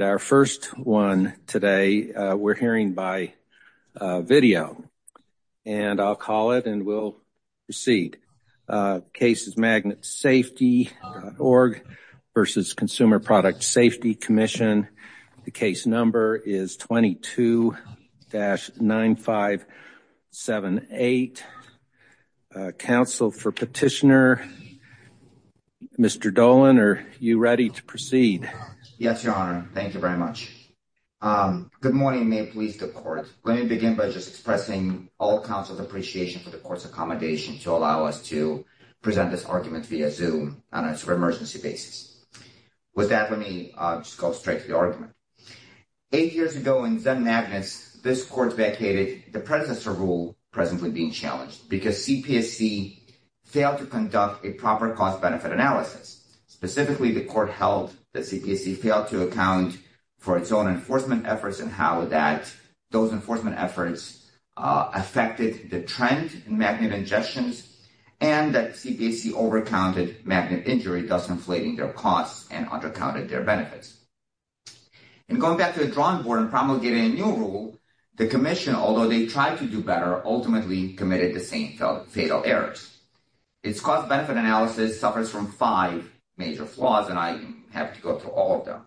and our first one today we're hearing by video. And I'll call it and we'll proceed. Case is Magnetsafety.org v. Consumer Product Safety Commission. The case number is 22-9578. Counsel for petitioner. Mr. Dolan, are you ready to proceed? Yes, your honor. Thank you very much. Good morning, may it please the court. Let me begin by just expressing all counsel's appreciation for the court's accommodation to allow us to present this argument via Zoom on a super emergency basis. With that, let me just go straight to the argument. Eight years ago in Zen Magnets, this court vacated the predecessor rule presently being challenged because CPSC failed to conduct a proper cost-benefit analysis. Specifically, the court held that CPSC failed to account for its own enforcement efforts and how that those enforcement efforts affected the trend in magnet ingestions. And that CPSC overcounted magnet injury, thus inflating their costs and undercounted their benefits. And going back to the drawing board and promulgating a new rule, the commission, although they tried to do better, ultimately committed the same fatal errors. Its cost-benefit analysis suffers from five major flaws and I have to go through all of them.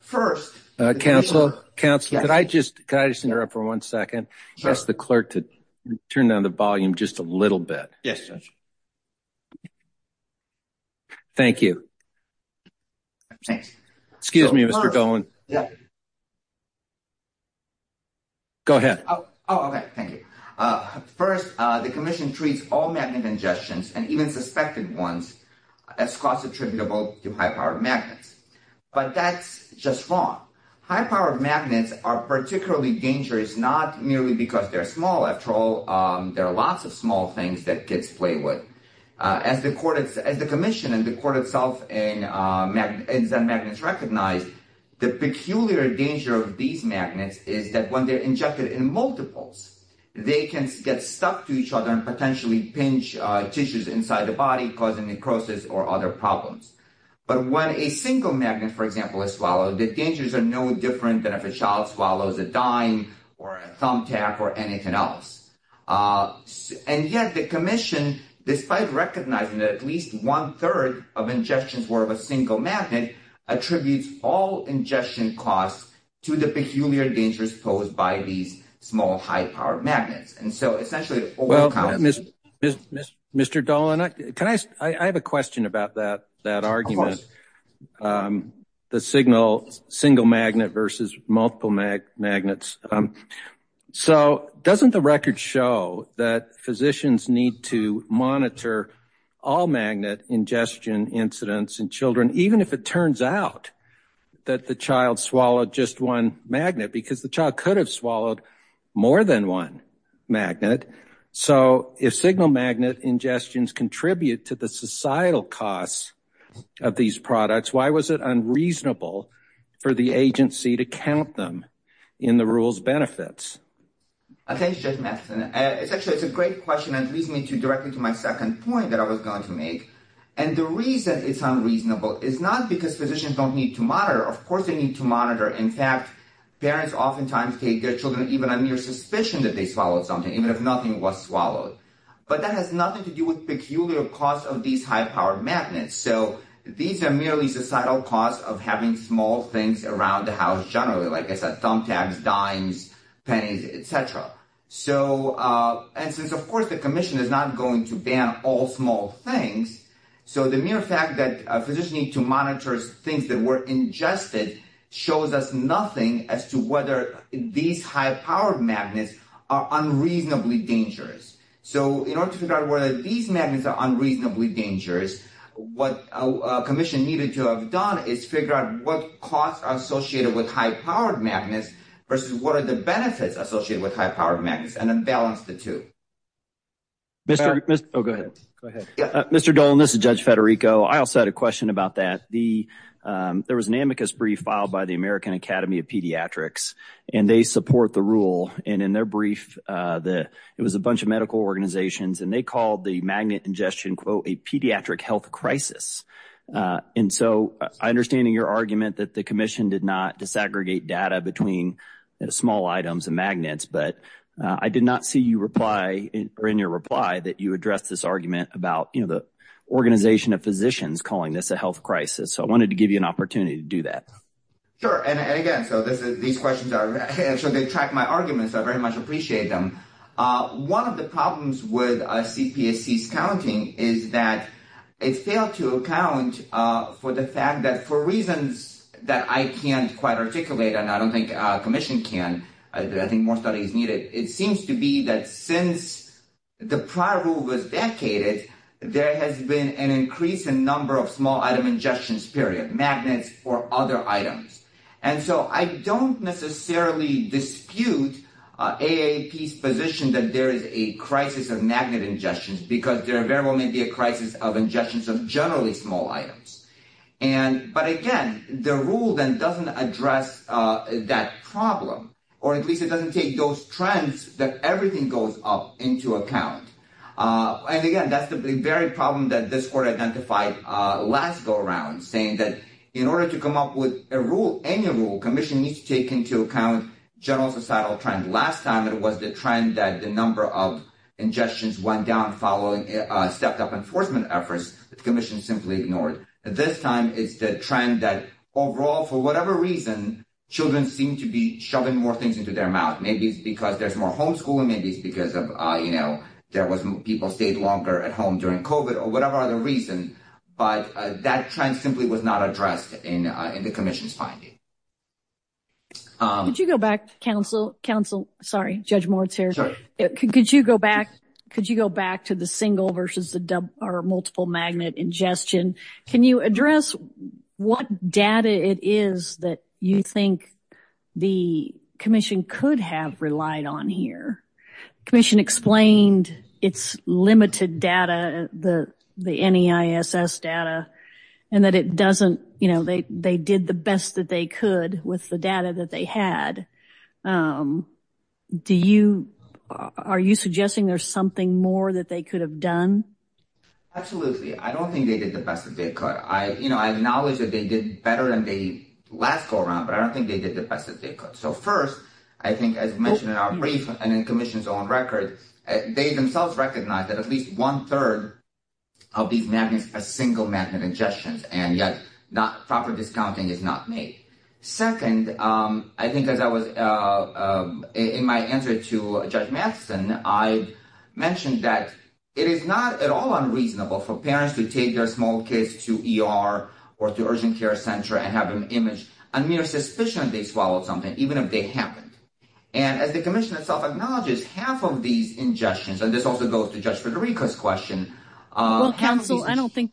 First, counsel, counsel, can I just interrupt for one second? Ask the clerk to turn down the volume just a little bit. Yes. Thank you. Excuse me, Mr. Golan. Go ahead. Oh, okay. Thank you. First, the commission treats all magnet ingestions and even suspected ones as cost attributable to high-powered magnets. But that's just wrong. High-powered magnets are particularly dangerous, not merely because they're small. After all, there are lots of small things that kids play with. As the commission and the court itself and Zen Magnets recognize, the peculiar danger of these magnets is that when they're injected in multiples, they can get stuck to each other and potentially pinch tissues inside the body, causing necrosis or other problems. But when a single magnet, for example, is swallowed, the dangers are no different than if a child swallows a dime or a thumbtack or anything else. And yet the commission, despite recognizing that at least one-third of ingestions were of a single magnet, attributes all ingestion costs to the peculiar dangers posed by these small high-powered magnets. Well, Mr. Golan, I have a question about that argument, the single magnet versus multiple magnets. So doesn't the record show that physicians need to monitor all magnet ingestion incidents in children, even if it turns out that the child swallowed just one magnet, because the child could have swallowed more than one? So if single magnet ingestions contribute to the societal costs of these products, why was it unreasonable for the agency to count them in the rules benefits? Thanks, Judge Matheson. It's actually a great question and leads me directly to my second point that I was going to make. And the reason it's unreasonable is not because physicians don't need to monitor. Of course they need to monitor. In fact, parents oftentimes take their children, even a mere suspicion that they swallowed something, even if nothing was swallowed. But that has nothing to do with peculiar costs of these high-powered magnets. So these are merely societal costs of having small things around the house generally, like I said, thumbtacks, dimes, pennies, et cetera. And since, of course, the commission is not going to ban all small things, so the mere fact that physicians need to monitor things that were ingested shows us nothing as to whether these high-powered magnets are unreasonably dangerous. So in order to figure out whether these magnets are unreasonably dangerous, what a commission needed to have done is figure out what costs are associated with high-powered magnets versus what are the benefits associated with high-powered magnets, and then balance the two. Mr. Dolan, this is Judge Federico. I also had a question about that. There was an amicus brief filed by the American Academy of Pediatrics, and they support the rule. And in their brief, it was a bunch of medical organizations, and they called the magnet ingestion, quote, a pediatric health crisis. And so I understand in your argument that the commission did not disaggregate data between small items and magnets, but I did not see you reply, or in your reply, that you addressed this argument about, you know, the organization of physicians calling this a health crisis. So I wanted to give you an opportunity to do that. Sure. And again, so these questions are – so they track my arguments, so I very much appreciate them. One of the problems with CPSC's counting is that it failed to account for the fact that for reasons that I can't quite articulate, and I don't think commission can, I think more studies need it. It seems to be that since the prior rule was vacated, there has been an increase in number of small item ingestions, period, magnets for other items. And so I don't necessarily dispute AAP's position that there is a crisis of magnet ingestions, because there very well may be a crisis of ingestions of generally small items. And – but again, the rule then doesn't address that problem, or at least it doesn't take those trends that everything goes up into account. And again, that's the very problem that this court identified last go-around, saying that in order to come up with a rule, any rule, commission needs to take into account general societal trend. Last time, it was the trend that the number of ingestions went down following stepped-up enforcement efforts. The commission simply ignored. This time, it's the trend that overall, for whatever reason, children seem to be shoving more things into their mouth. Maybe it's because there's more homeschooling. Maybe it's because of, you know, there was – people stayed longer at home during COVID or whatever other reason. But that trend simply was not addressed in the commission's finding. MS. MCDOWELL. Could you go back, counsel – counsel – sorry, Judge Moritz here. MR. MORITZ. Sure. MS. MCDOWELL. Could you go back – could you go back to the single versus the double – or can you address what data it is that you think the commission could have relied on here? Commission explained its limited data, the NEISS data, and that it doesn't – you know, they did the best that they could with the data that they had. Do you – are you suggesting there's something more that they could have done? MR. MORITZ. Absolutely. I don't think they did the best that they could. I – you know, I acknowledge that they did better than they last go-around, but I don't think they did the best that they could. So, first, I think, as mentioned in our brief and in the commission's own record, they themselves recognized that at least one-third of these magnets are single-magnet ingestions, and yet proper discounting is not made. Second, I think as I was – in my answer to Judge Matheson, I mentioned that it is not at all unreasonable for parents to take their small kids to ER or to urgent care center and have an image, a mere suspicion that they swallowed something, even if they haven't. And as the commission itself acknowledges, half of these ingestions – and this also goes to Judge Federico's question – half of these – MS. MCDOWELL. Well, counsel, I don't think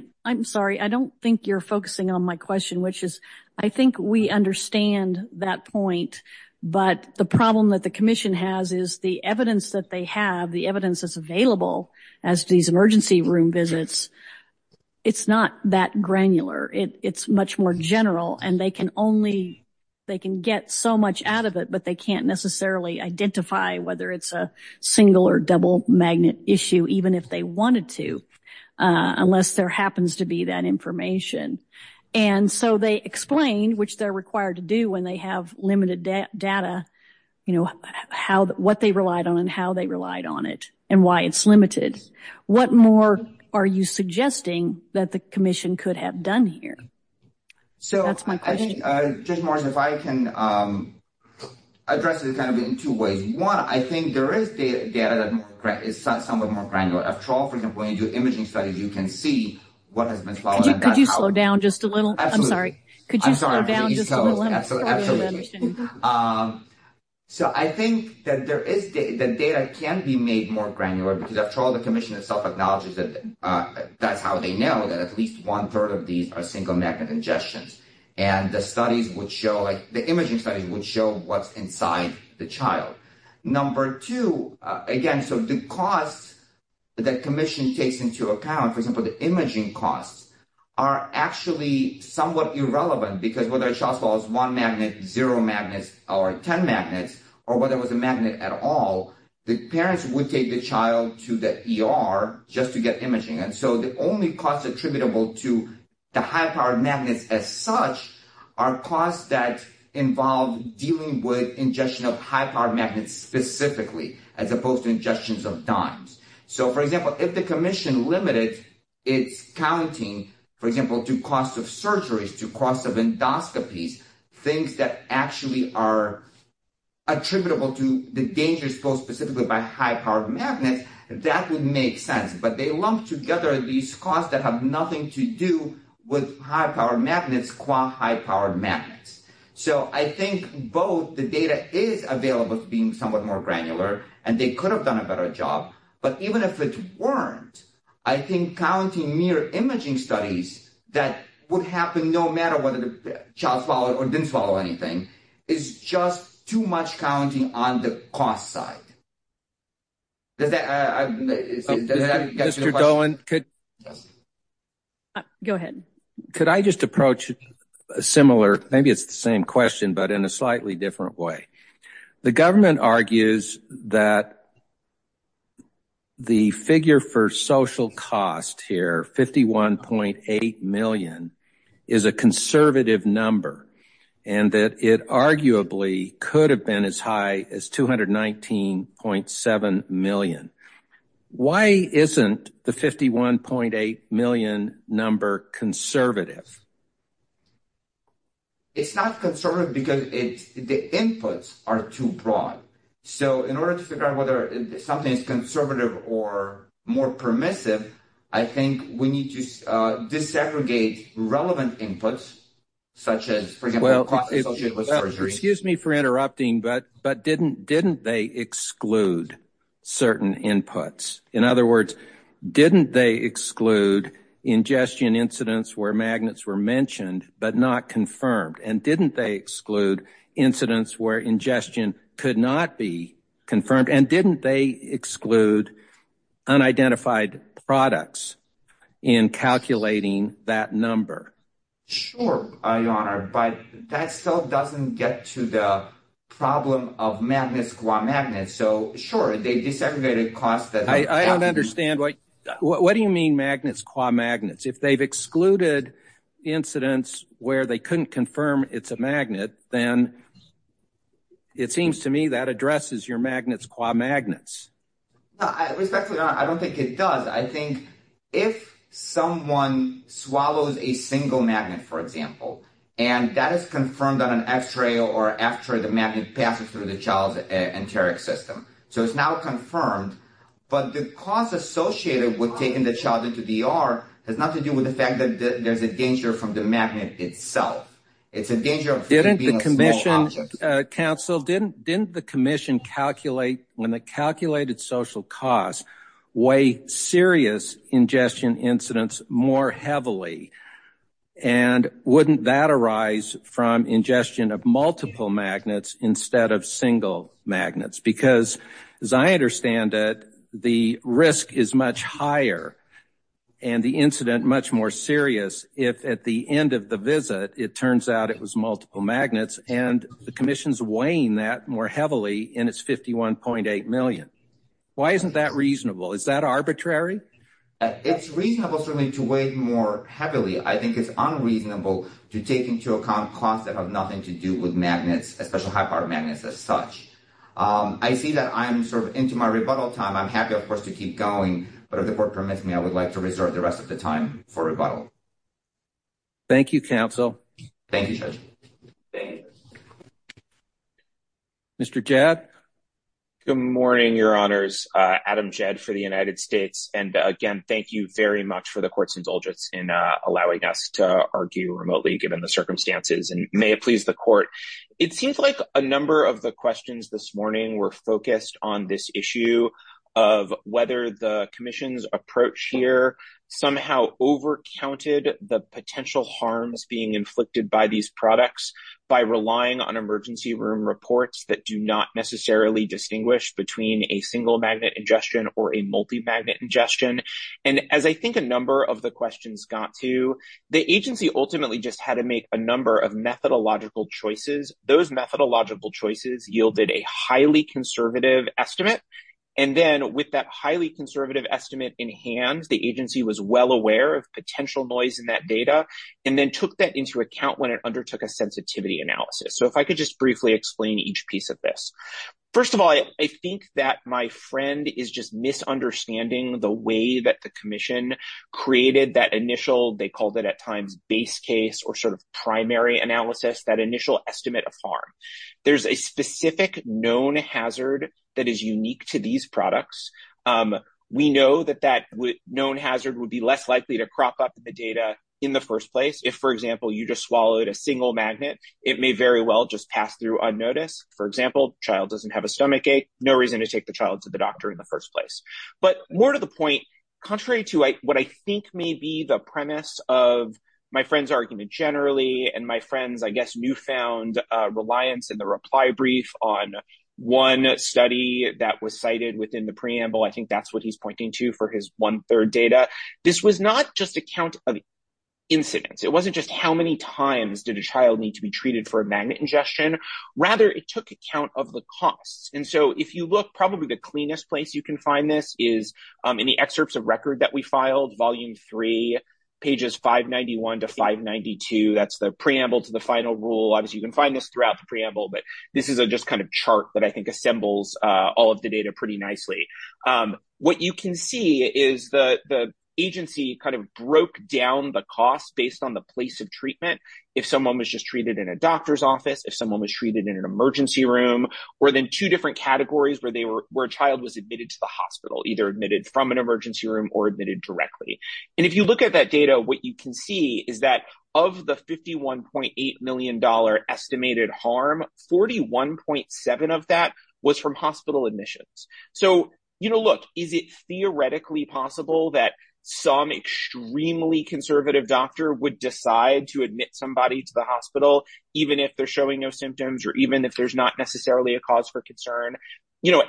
– I'm sorry. I don't think you're focusing on my question, which is I think we understand that point, but the problem that the commission has is the evidence that they have, the evidence that's available as to these emergency room visits, it's not that granular. It's much more general, and they can only – they can get so much out of it, but they can't necessarily identify whether it's a single- or double-magnet issue, even if they wanted to, unless there happens to be that information. And so they explain, which they're required to do when they have limited data, you know, how – what they relied on and how they relied on it and why it's limited. What more are you suggesting that the commission could have done here? So that's my question. MR. GOLDSTEIN. So I think, Judge Morris, if I can address it kind of in two ways. One, I think there is data that is somewhat more granular. After all, for example, when you do imaging studies, you can see what has been followed. MS. MCDOWELL. Could you slow down just a little? MR. GOLDSTEIN. Absolutely. MS. MCDOWELL. I'm sorry. MR. GOLDSTEIN. I'm sorry. MS. MCDOWELL. Could you slow down just a little? MR. GOLDSTEIN. Absolutely. So I think that there is – that data can be made more granular, because after all, the commission itself acknowledges that that's how they know that at least one-third of these are single-magnet ingestions. And the studies would show – the imaging studies would show what's inside the child. Number two, again, so the cost that commission takes into account, for example, the imaging costs, are actually somewhat irrelevant, because whether a child swallows one magnet, zero magnets, or 10 magnets, or whether it was a magnet at all, the parents would take the child to the ER just to get imaging. And so the only cost attributable to high-powered magnets as such are costs that involve dealing with ingestion of high-powered magnets specifically, as opposed to ingestions of dimes. So, for example, if the commission limited its counting, for example, to costs of surgeries, to costs of endoscopies, things that actually are attributable to the dangers posed specifically by high-powered magnets, that would make sense. But they lump together these costs that have nothing to do with high-powered magnets qua high-powered magnets. So I think both the data is available as being somewhat more granular, and they could have done a better job. But even if it weren't, I think counting mere imaging studies that would happen no matter whether the child swallowed or anything, is just too much counting on the cost side. Does that get to the question? Mr. Dolan, could I just approach a similar, maybe it's the same question, but in a slightly different way. The government argues that the figure for social cost here, 51.8 million, is a conservative number, and that it arguably could have been as high as 219.7 million. Why isn't the 51.8 million number conservative? It's not conservative because the inputs are too broad. So in order to figure out whether something is conservative or more permissive, I think we need to disaggregate relevant inputs, such as, for example, costs associated with surgery. Excuse me for interrupting, but didn't they exclude certain inputs? In other words, didn't they exclude ingestion incidents where magnets were mentioned but not confirmed? And didn't they exclude unidentified products in calculating that number? Sure, Your Honor, but that still doesn't get to the problem of magnets qua magnets. So sure, they disaggregated costs. I don't understand. What do you mean magnets qua magnets? If they've excluded incidents where they couldn't confirm it's a magnet, then it seems to me that addresses your magnets qua magnets. Respectfully, Your Honor, I don't think it does. I think if someone swallows a single magnet, for example, and that is confirmed on an x-ray or after the magnet passes through the child's enteric system, so it's now confirmed, but the cost associated with taking the child into the ER has nothing to do with the fact that there's a danger from the magnet itself. It's a danger of being a small object. Counsel, didn't the commission calculate when the calculated social costs weigh serious ingestion incidents more heavily? And wouldn't that arise from ingestion of multiple magnets instead of single magnets? Because as I understand it, the risk is much higher and the incident much more serious if at the end of the visit, it turns out it was multiple magnets and the commission's weighing that more heavily in its 51.8 million. Why isn't that reasonable? Is that arbitrary? It's reasonable for me to weigh more heavily. I think it's unreasonable to take into account costs that have nothing to do with magnets, especially high power magnets as such. I see that I'm sort of into my rebuttal time. I'm happy, of course, to keep going, but if the court permits me, I would like to reserve the rest of the time for rebuttal. Thank you, Counsel. Thank you, Judge. Mr. Jed. Good morning, Your Honors. Adam Jed for the United States. And again, thank you very much for the court's indulgence in allowing us to argue remotely given the circumstances and may it please the court. It seems like a number of the questions this morning were focused on this issue of whether the commission's approach here somehow overcounted the potential harms being inflicted by these products by relying on emergency room reports that do not necessarily distinguish between a single magnet ingestion or a multi-magnet ingestion. And as I think a number of the questions got to, the agency ultimately just had to make a number of methodological choices. Those methodological choices yielded a highly conservative estimate. And then with that highly conservative estimate in hand, the agency was well aware of potential noise in that data and then took that into account when it undertook a sensitivity analysis. So if I could just briefly explain each piece of this. First of all, I think that my friend is just misunderstanding the way that the commission created that initial, they called it at times, base case or sort of primary analysis, that initial estimate of harm. There's a specific known hazard that is unique to these products. We know that that known hazard would be less likely to crop up the data in the first place. If for example, you just swallowed a single magnet, it may very well just pass through unnoticed. For example, child doesn't have a stomach ache, no reason to take the child to the doctor in the first place. But more to the point, contrary to what I think may be the premise of my friend's argument generally and my friend's, I guess, newfound reliance in the reply brief on one study that was cited within the preamble, I think that's what he's pointing to for his one third data. This was not just a count of incidents. It wasn't just how many times did a child need to be treated for a magnet ingestion. Rather, it took account of the costs. And so if you look, probably the cleanest place you can find this is in the excerpts of record that we filed, volume three, pages 591 to 592. That's the preamble to the final rule. Obviously, you can find this preamble, but this is a chart that I think assembles all of the data pretty nicely. What you can see is the agency broke down the costs based on the place of treatment. If someone was just treated in a doctor's office, if someone was treated in an emergency room, or then two different categories where a child was admitted to the hospital, either admitted from an emergency room or admitted directly. And if you look at that data, what you can see is that of the $51.8 million estimated harm, 41.7 of that was from hospital admissions. Look, is it theoretically possible that some extremely conservative doctor would decide to admit somebody to the hospital, even if they're showing no symptoms, or even if there's not necessarily a cause for concern?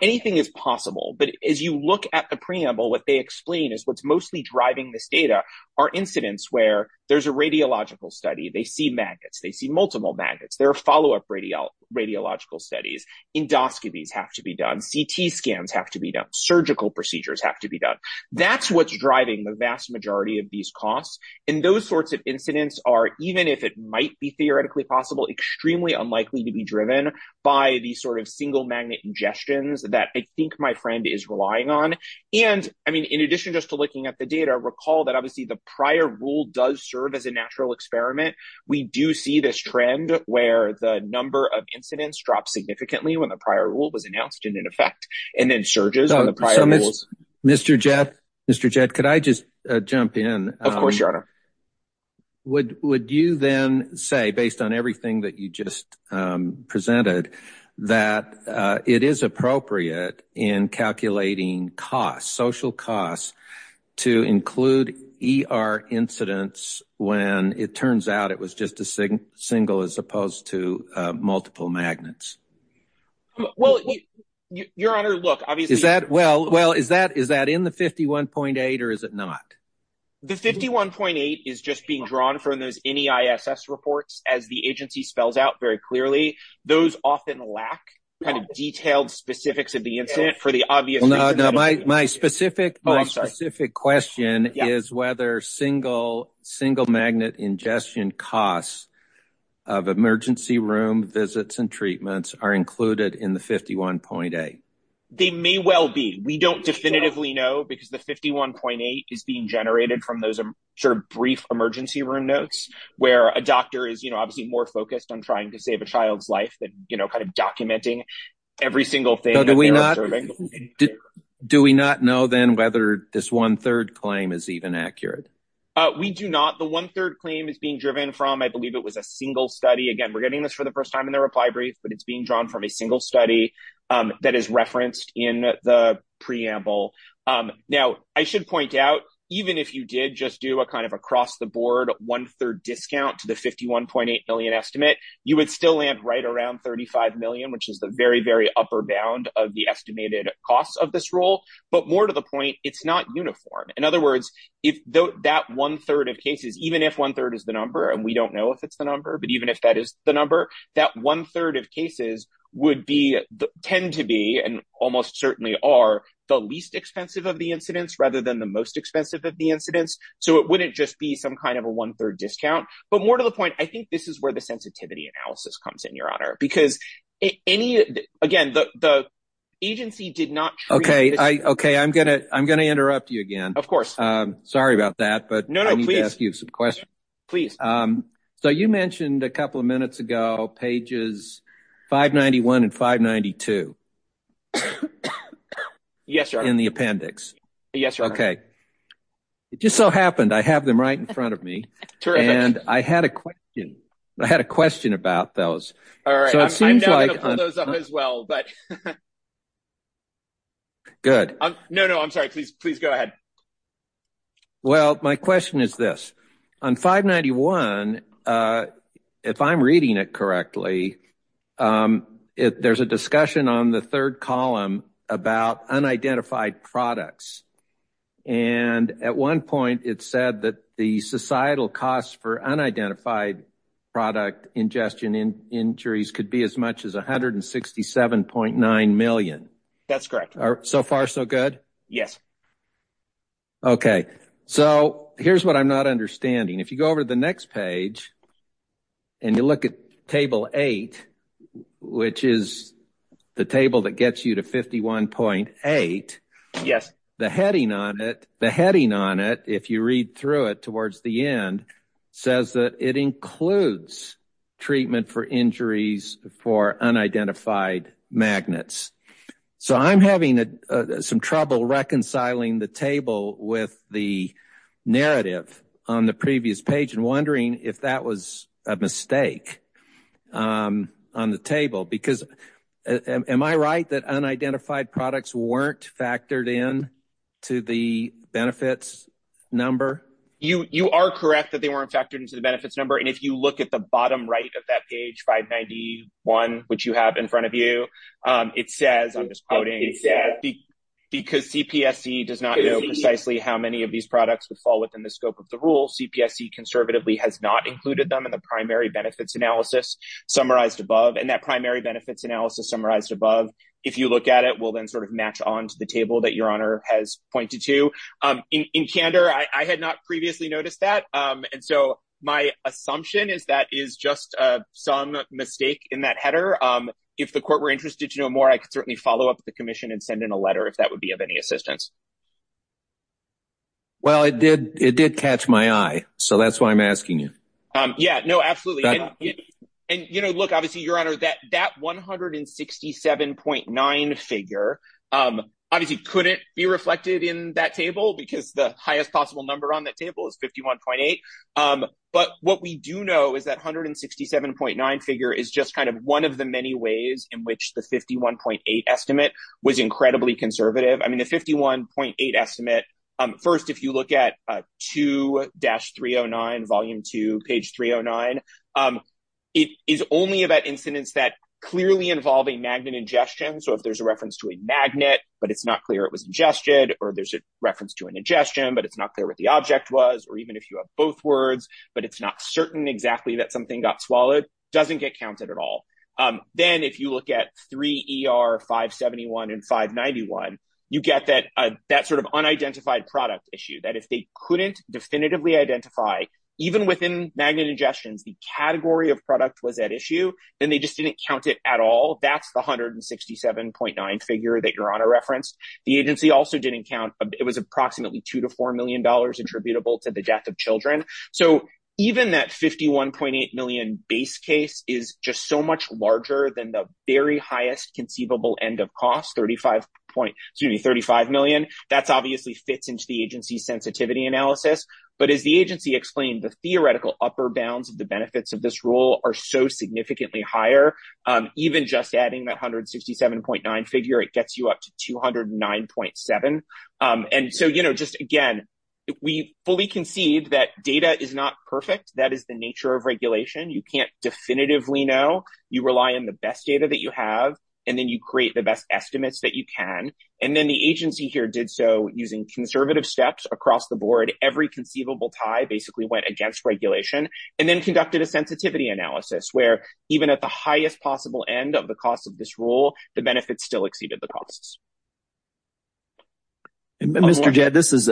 Anything is possible. But as you look at the preamble, what they explain is what's mostly driving this data are incidents where there's a radiological study, they see magnets, they see multiple magnets, there are follow-up radiological studies, endoscopies have to be done, CT scans have to be done, surgical procedures have to be done. That's what's driving the vast majority of these costs. And those sorts of incidents are, even if it might be theoretically possible, extremely unlikely to be driven by the sort of single magnet ingestions that I think my friend is relying on. And I mean, in addition just to looking at the data, recall that obviously the prior rule does serve as a natural experiment. We do see this trend where the number of incidents dropped significantly when the prior rule was announced in effect, and then surges on the prior rules. Mr. Jett, Mr. Jett, could I just jump in? Of course, it is appropriate in calculating costs, social costs, to include ER incidents when it turns out it was just a single as opposed to multiple magnets. Well, Your Honor, look, obviously- Is that, well, is that in the 51.8 or is it not? The 51.8 is just being drawn from those NEISS reports as the agency spells out very clearly. Those often lack kind of detailed specifics of the incident for the obvious- Well, no, no, my specific- Oh, I'm sorry. My specific question is whether single magnet ingestion costs of emergency room visits and treatments are included in the 51.8. They may well be. We don't definitively know because the 51.8 is being generated from those sort of brief emergency room notes where a doctor is, you know, obviously more focused on trying to save a child's life than, you know, kind of documenting every single thing. Do we not know then whether this one-third claim is even accurate? We do not. The one-third claim is being driven from, I believe it was a single study. Again, we're getting this for the first time in the reply brief, but it's being drawn from a single study that is referenced in the preamble. Now, I should point out, even if you did just do a kind of across-the-board one-third discount to the 51.8 million estimate, you would still land right around 35 million, which is the very, very upper bound of the estimated costs of this rule. But more to the point, it's not uniform. In other words, that one-third of cases, even if one-third is the number, and we don't know if it's the number, but even if that is the number, that one-third of cases would be, tend to be, and almost certainly are, the least expensive of the incidents rather than the most expensive of the incidents. So it wouldn't just be some kind of a one-third discount. But more to the point, I think this is where the sensitivity analysis comes in, Your Honor, because any, again, the agency did not. Okay, I'm going to interrupt you again. Of course. Sorry about that, but I need to ask you some questions. Please. So you mentioned a couple of minutes ago pages 591 and 592. Yes, Your Honor. In the appendix. Yes, Your Honor. Okay. It just so happened I have them right in front of me. Terrific. And I had a question. I had a question about those. All right. So it seems like... I'm not going to pull those up as well, but... Good. No, no, I'm sorry. Please, please go ahead. Well, my question is this. On 591, if I'm reading it correctly, there's a discussion on the third column about unidentified products. And at one point, it said that the societal costs for unidentified product ingestion injuries could be as much as $167.9 million. That's correct. So far, so good? Yes. Okay. So here's what I'm not understanding. If you go over to the next page and you look at table eight, which is the table that gets you to 51.8, the heading on it, if you read through it towards the end, says that it includes treatment for injuries for unidentified magnets. So I'm having some trouble reconciling the table with the narrative on the previous page and wondering if that was a mistake on the table. Because am I right that unidentified products weren't factored in to the benefits number? You are correct that they weren't factored into the benefits number. And if you look at the bottom right of that page, 591, which you have in front of you, it says, I'm just quoting, because CPSC does not know precisely how many of these products would fall within the scope of the rule, CPSC conservatively has not included them in the primary benefits analysis summarized above. And that primary benefits analysis summarized above, if you look at it, will then sort of notice that. And so my assumption is that is just some mistake in that header. If the court were interested to know more, I could certainly follow up with the commission and send in a letter if that would be of any assistance. Well, it did catch my eye. So that's why I'm asking you. Yeah, no, absolutely. And look, obviously, Your Honor, that 167.9 figure obviously couldn't be reflected in that table, because the highest possible number on that table is 51.8. But what we do know is that 167.9 figure is just kind of one of the many ways in which the 51.8 estimate was incredibly conservative. I mean, the 51.8 estimate, first, if you look at 2-309, volume 2, page 309, it is only about incidents that clearly involve a magnet ingestion. So if there's a ingestion, or there's a reference to an ingestion, but it's not clear what the object was, or even if you have both words, but it's not certain exactly that something got swallowed, doesn't get counted at all. Then if you look at 3-ER-571 and 591, you get that sort of unidentified product issue, that if they couldn't definitively identify, even within magnet ingestions, the category of product was at issue, then they just didn't count it at all. That's the 167.9 figure that Your Honor referenced. The agency also didn't count. It was approximately $2-4 million attributable to the death of children. So even that 51.8 million base case is just so much larger than the very highest conceivable end of cost, 35 million. That obviously fits into the agency sensitivity analysis. But as the agency explained, the theoretical upper bounds of the benefits of this rule are so significantly higher. Even just adding that 167.9 figure, it gets you up to 209.7. Again, we fully concede that data is not perfect. That is the nature of regulation. You can't definitively know. You rely on the best data that you have, and then you create the best estimates that you can. Then the agency here did so using conservative steps across the board. Every conceivable tie basically went against regulation, and then conducted a sensitivity analysis where even at the highest possible end of the cost of this rule, the benefits still exceeded the costs. Mr. Jed, this is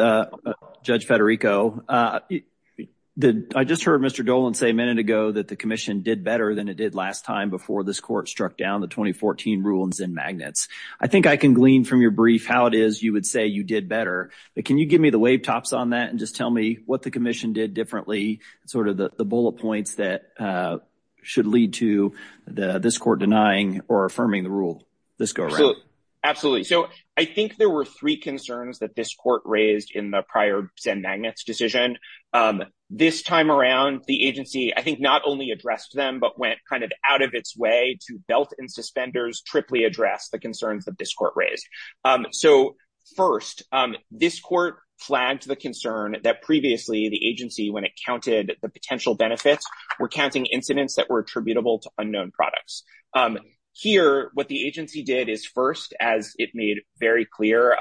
Judge Federico. I just heard Mr. Dolan say a minute ago that the commission did better than it did last time before this court struck down the 2014 rules in magnets. I think I can glean from your brief how it is you would say you did better, but can you give me the tops on that and just tell me what the commission did differently, the bullet points that should lead to this court denying or affirming the rule? Let's go around. Absolutely. I think there were three concerns that this court raised in the prior Zen Magnets decision. This time around, the agency I think not only addressed them, but went out of its way to belt and suspenders, triply address the concerns that this court raised. First, this court flagged the concern that previously the agency, when it counted the potential benefits, were counting incidents that were attributable to unknown products. Here, what the agency did is first, as it made very clear,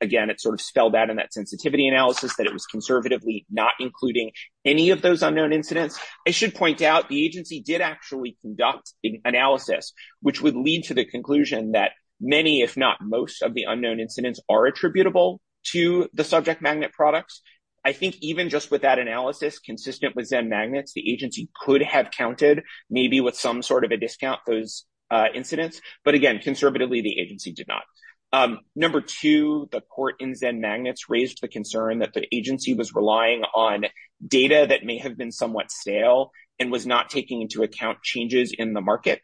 again, it spelled out in that sensitivity analysis that it was conservatively not including any of those unknown incidents. I should point out the agency did actually conduct an analysis, which would lead to the conclusion that many, if not most, of the unknown incidents are attributable to the subject magnet products. I think even just with that analysis, consistent with Zen Magnets, the agency could have counted maybe with some sort of a discount those incidents, but again, conservatively, the agency did not. Number two, the court in Zen Magnets raised the concern that the agency was relying on data that may have been somewhat stale and was not taking into account changes in the market.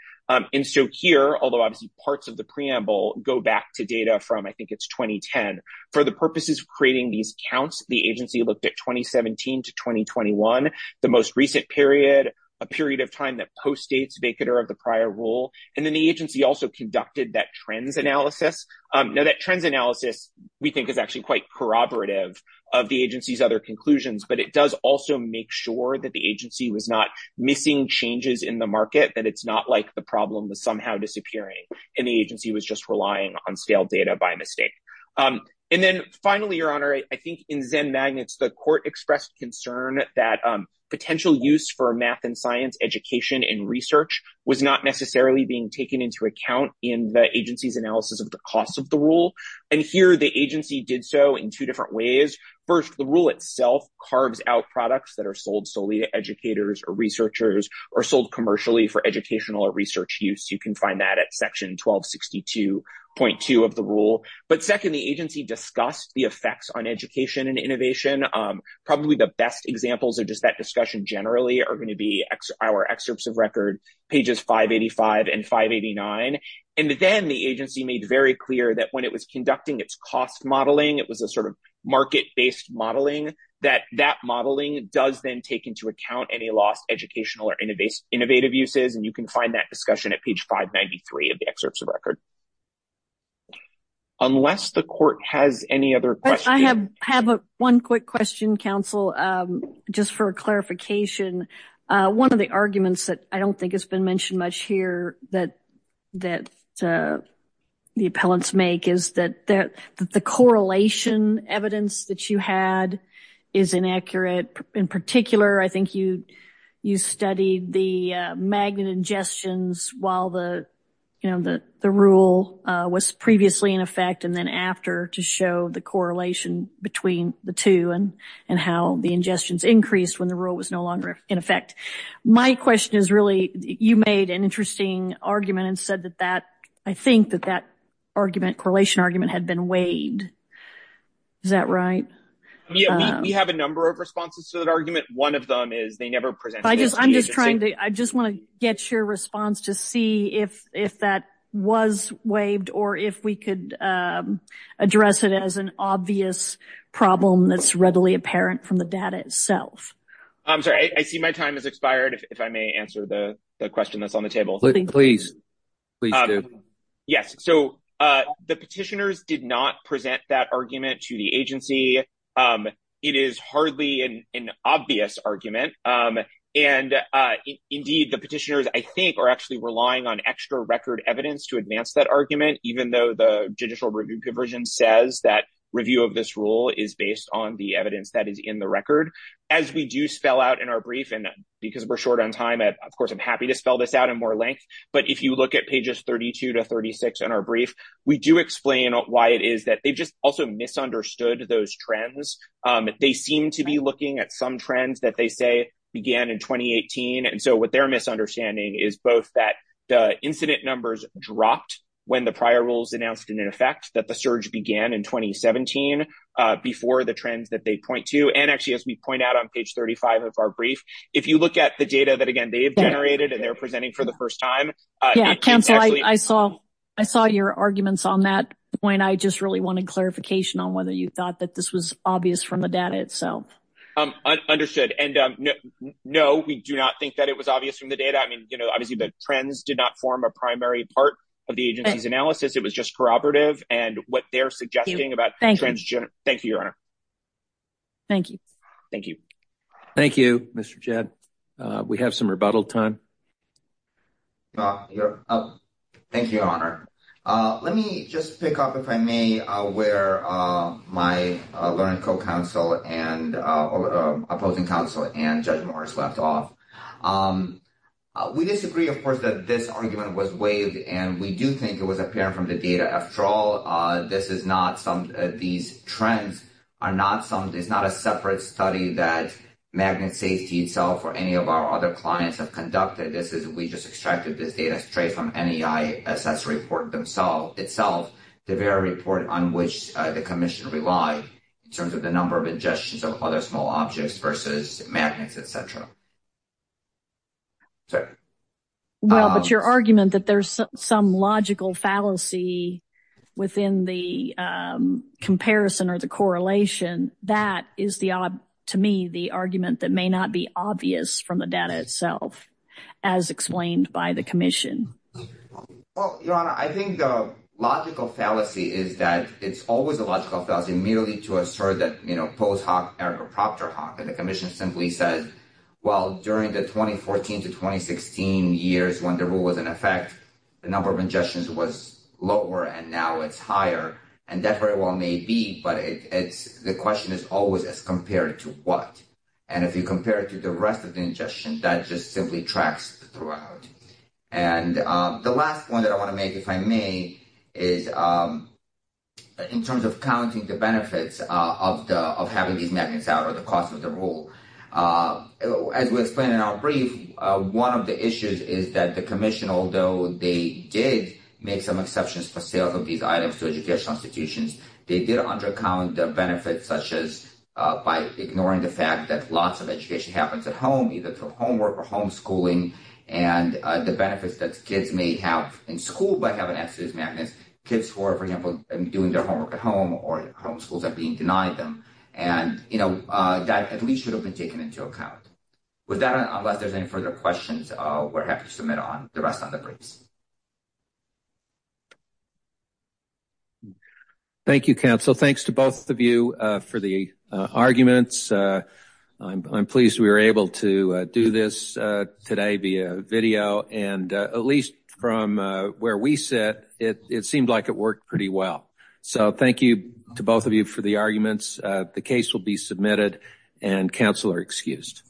Here, although obviously parts of the preamble go back to data from, I think it's 2010, for the purposes of creating these counts, the agency looked at 2017 to 2021, the most recent period, a period of time that postdates vacatur of the prior rule, and then the agency also conducted that trends analysis. Now, that trends analysis, we think, is actually quite corroborative of the agency's other conclusions, but it does also make sure that the agency was not missing changes in the market, that it's not like the problem was somehow disappearing and the agency was just relying on stale data by mistake. And then finally, Your Honor, I think in Zen Magnets, the court expressed concern that potential use for math and science, education, and research was not necessarily being taken into account in the agency's analysis of the cost of the rule, and here the agency did so in two different ways. First, the rule itself carves out products that are sold solely to educators or researchers or sold commercially for educational or research use. You can find that at section 1262.2 of the rule. But second, the agency discussed the effects on education and innovation. Probably the best examples of just that discussion generally are going to be our excerpts of record, pages 585 and 589, and then the agency made very clear that when it was conducting its cost modeling, it was a sort of market-based modeling, that that modeling does then take into account any lost educational or innovative uses, and you can find that discussion at page 593 of the excerpts of record. Unless the court has any other questions. I have one quick question, counsel, just for clarification. One of the arguments that I don't think has been mentioned much here that the appellants make is that the correlation evidence that you had is inaccurate. In particular, I think you studied the magnet ingestions while the, you know, the rule was previously in effect and then after to show the correlation between the two and how the ingestions increased when the rule was no longer in effect. My question is really, you made an interesting argument and said that that, I think that that argument, correlation argument, had been waived. Is that right? We have a number of responses to that argument. One of them is they never presented. I'm just trying to, I just want to get your response to see if that was waived or if we could address it as an obvious problem that's readily apparent from the data itself. I'm sorry, I see my time has expired. If I answer the question that's on the table. Please, please do. Yes, so the petitioners did not present that argument to the agency. It is hardly an obvious argument and indeed the petitioners, I think, are actually relying on extra record evidence to advance that argument even though the judicial review provision says that review of this rule is based on the evidence that is in the Of course, I'm happy to spell this out in more length. But if you look at pages 32 to 36 in our brief, we do explain why it is that they just also misunderstood those trends. They seem to be looking at some trends that they say began in 2018. And so what their misunderstanding is both that the incident numbers dropped when the prior rules announced in effect that the surge began in 2017 before the trends that they point to. And actually, as we point out on page 35 of our brief, if you look at the data that again, they've generated and they're presenting for the first time. I saw your arguments on that point. I just really wanted clarification on whether you thought that this was obvious from the data itself. Understood. And no, we do not think that it was obvious from the data. I mean, you know, obviously, the trends did not form a primary part of the agency's analysis. It was just corroborative and what they're suggesting about Thank you, Your Honor. Thank you. Thank you. Thank you, Mr. Jed. We have some rebuttal time. Thank you, Your Honor. Let me just pick up if I may where my learned co-counsel and opposing counsel and Judge Morris left off. We disagree, of course, that this argument was waived and we do think it was apparent from the data. After all, these trends are not a separate study that Magnet Safety itself or any of our other clients have conducted. We just extracted this data straight from NEI assess report itself, the very report on which the commission relied in terms of the number of ingestions of other small objects versus magnets, et cetera. So, well, but your argument that there's some logical fallacy within the comparison or the correlation, that is, to me, the argument that may not be obvious from the data itself, as explained by the commission. Well, Your Honor, I think the logical fallacy is that it's always a logical fallacy merely to assert that, you know, post hoc ergo proctor hoc and the commission simply said, well, during the 2014 to 2016 years when the rule was in effect, the number of ingestions was lower, and now it's higher. And that very well may be, but the question is always as compared to what. And if you compare it to the rest of the ingestion, that just simply tracks throughout. And the last one that I want to make, if I may, is in terms of counting the benefits of having these magnets out or the cost of the rule. As we explained in our brief, one of the issues is that the commission, although they did make some exceptions for sales of these items to educational institutions, they did undercount the benefits, such as by ignoring the fact that lots of education happens at home, either through homework or homeschooling, and the benefits that kids may have in school by having access to these magnets, kids who are, for example, doing their homework at home or homeschools are being denied them. And, you know, that at least should have been taken into account. With that, unless there's any further questions, we're happy to submit the rest of the briefs. Thank you, counsel. Thanks to both of you for the arguments. I'm pleased we were able to do this today via video. And at least from where we sit, it seemed like it worked pretty well. So thank you to both of you for the arguments. The case will be submitted and counsel are excused.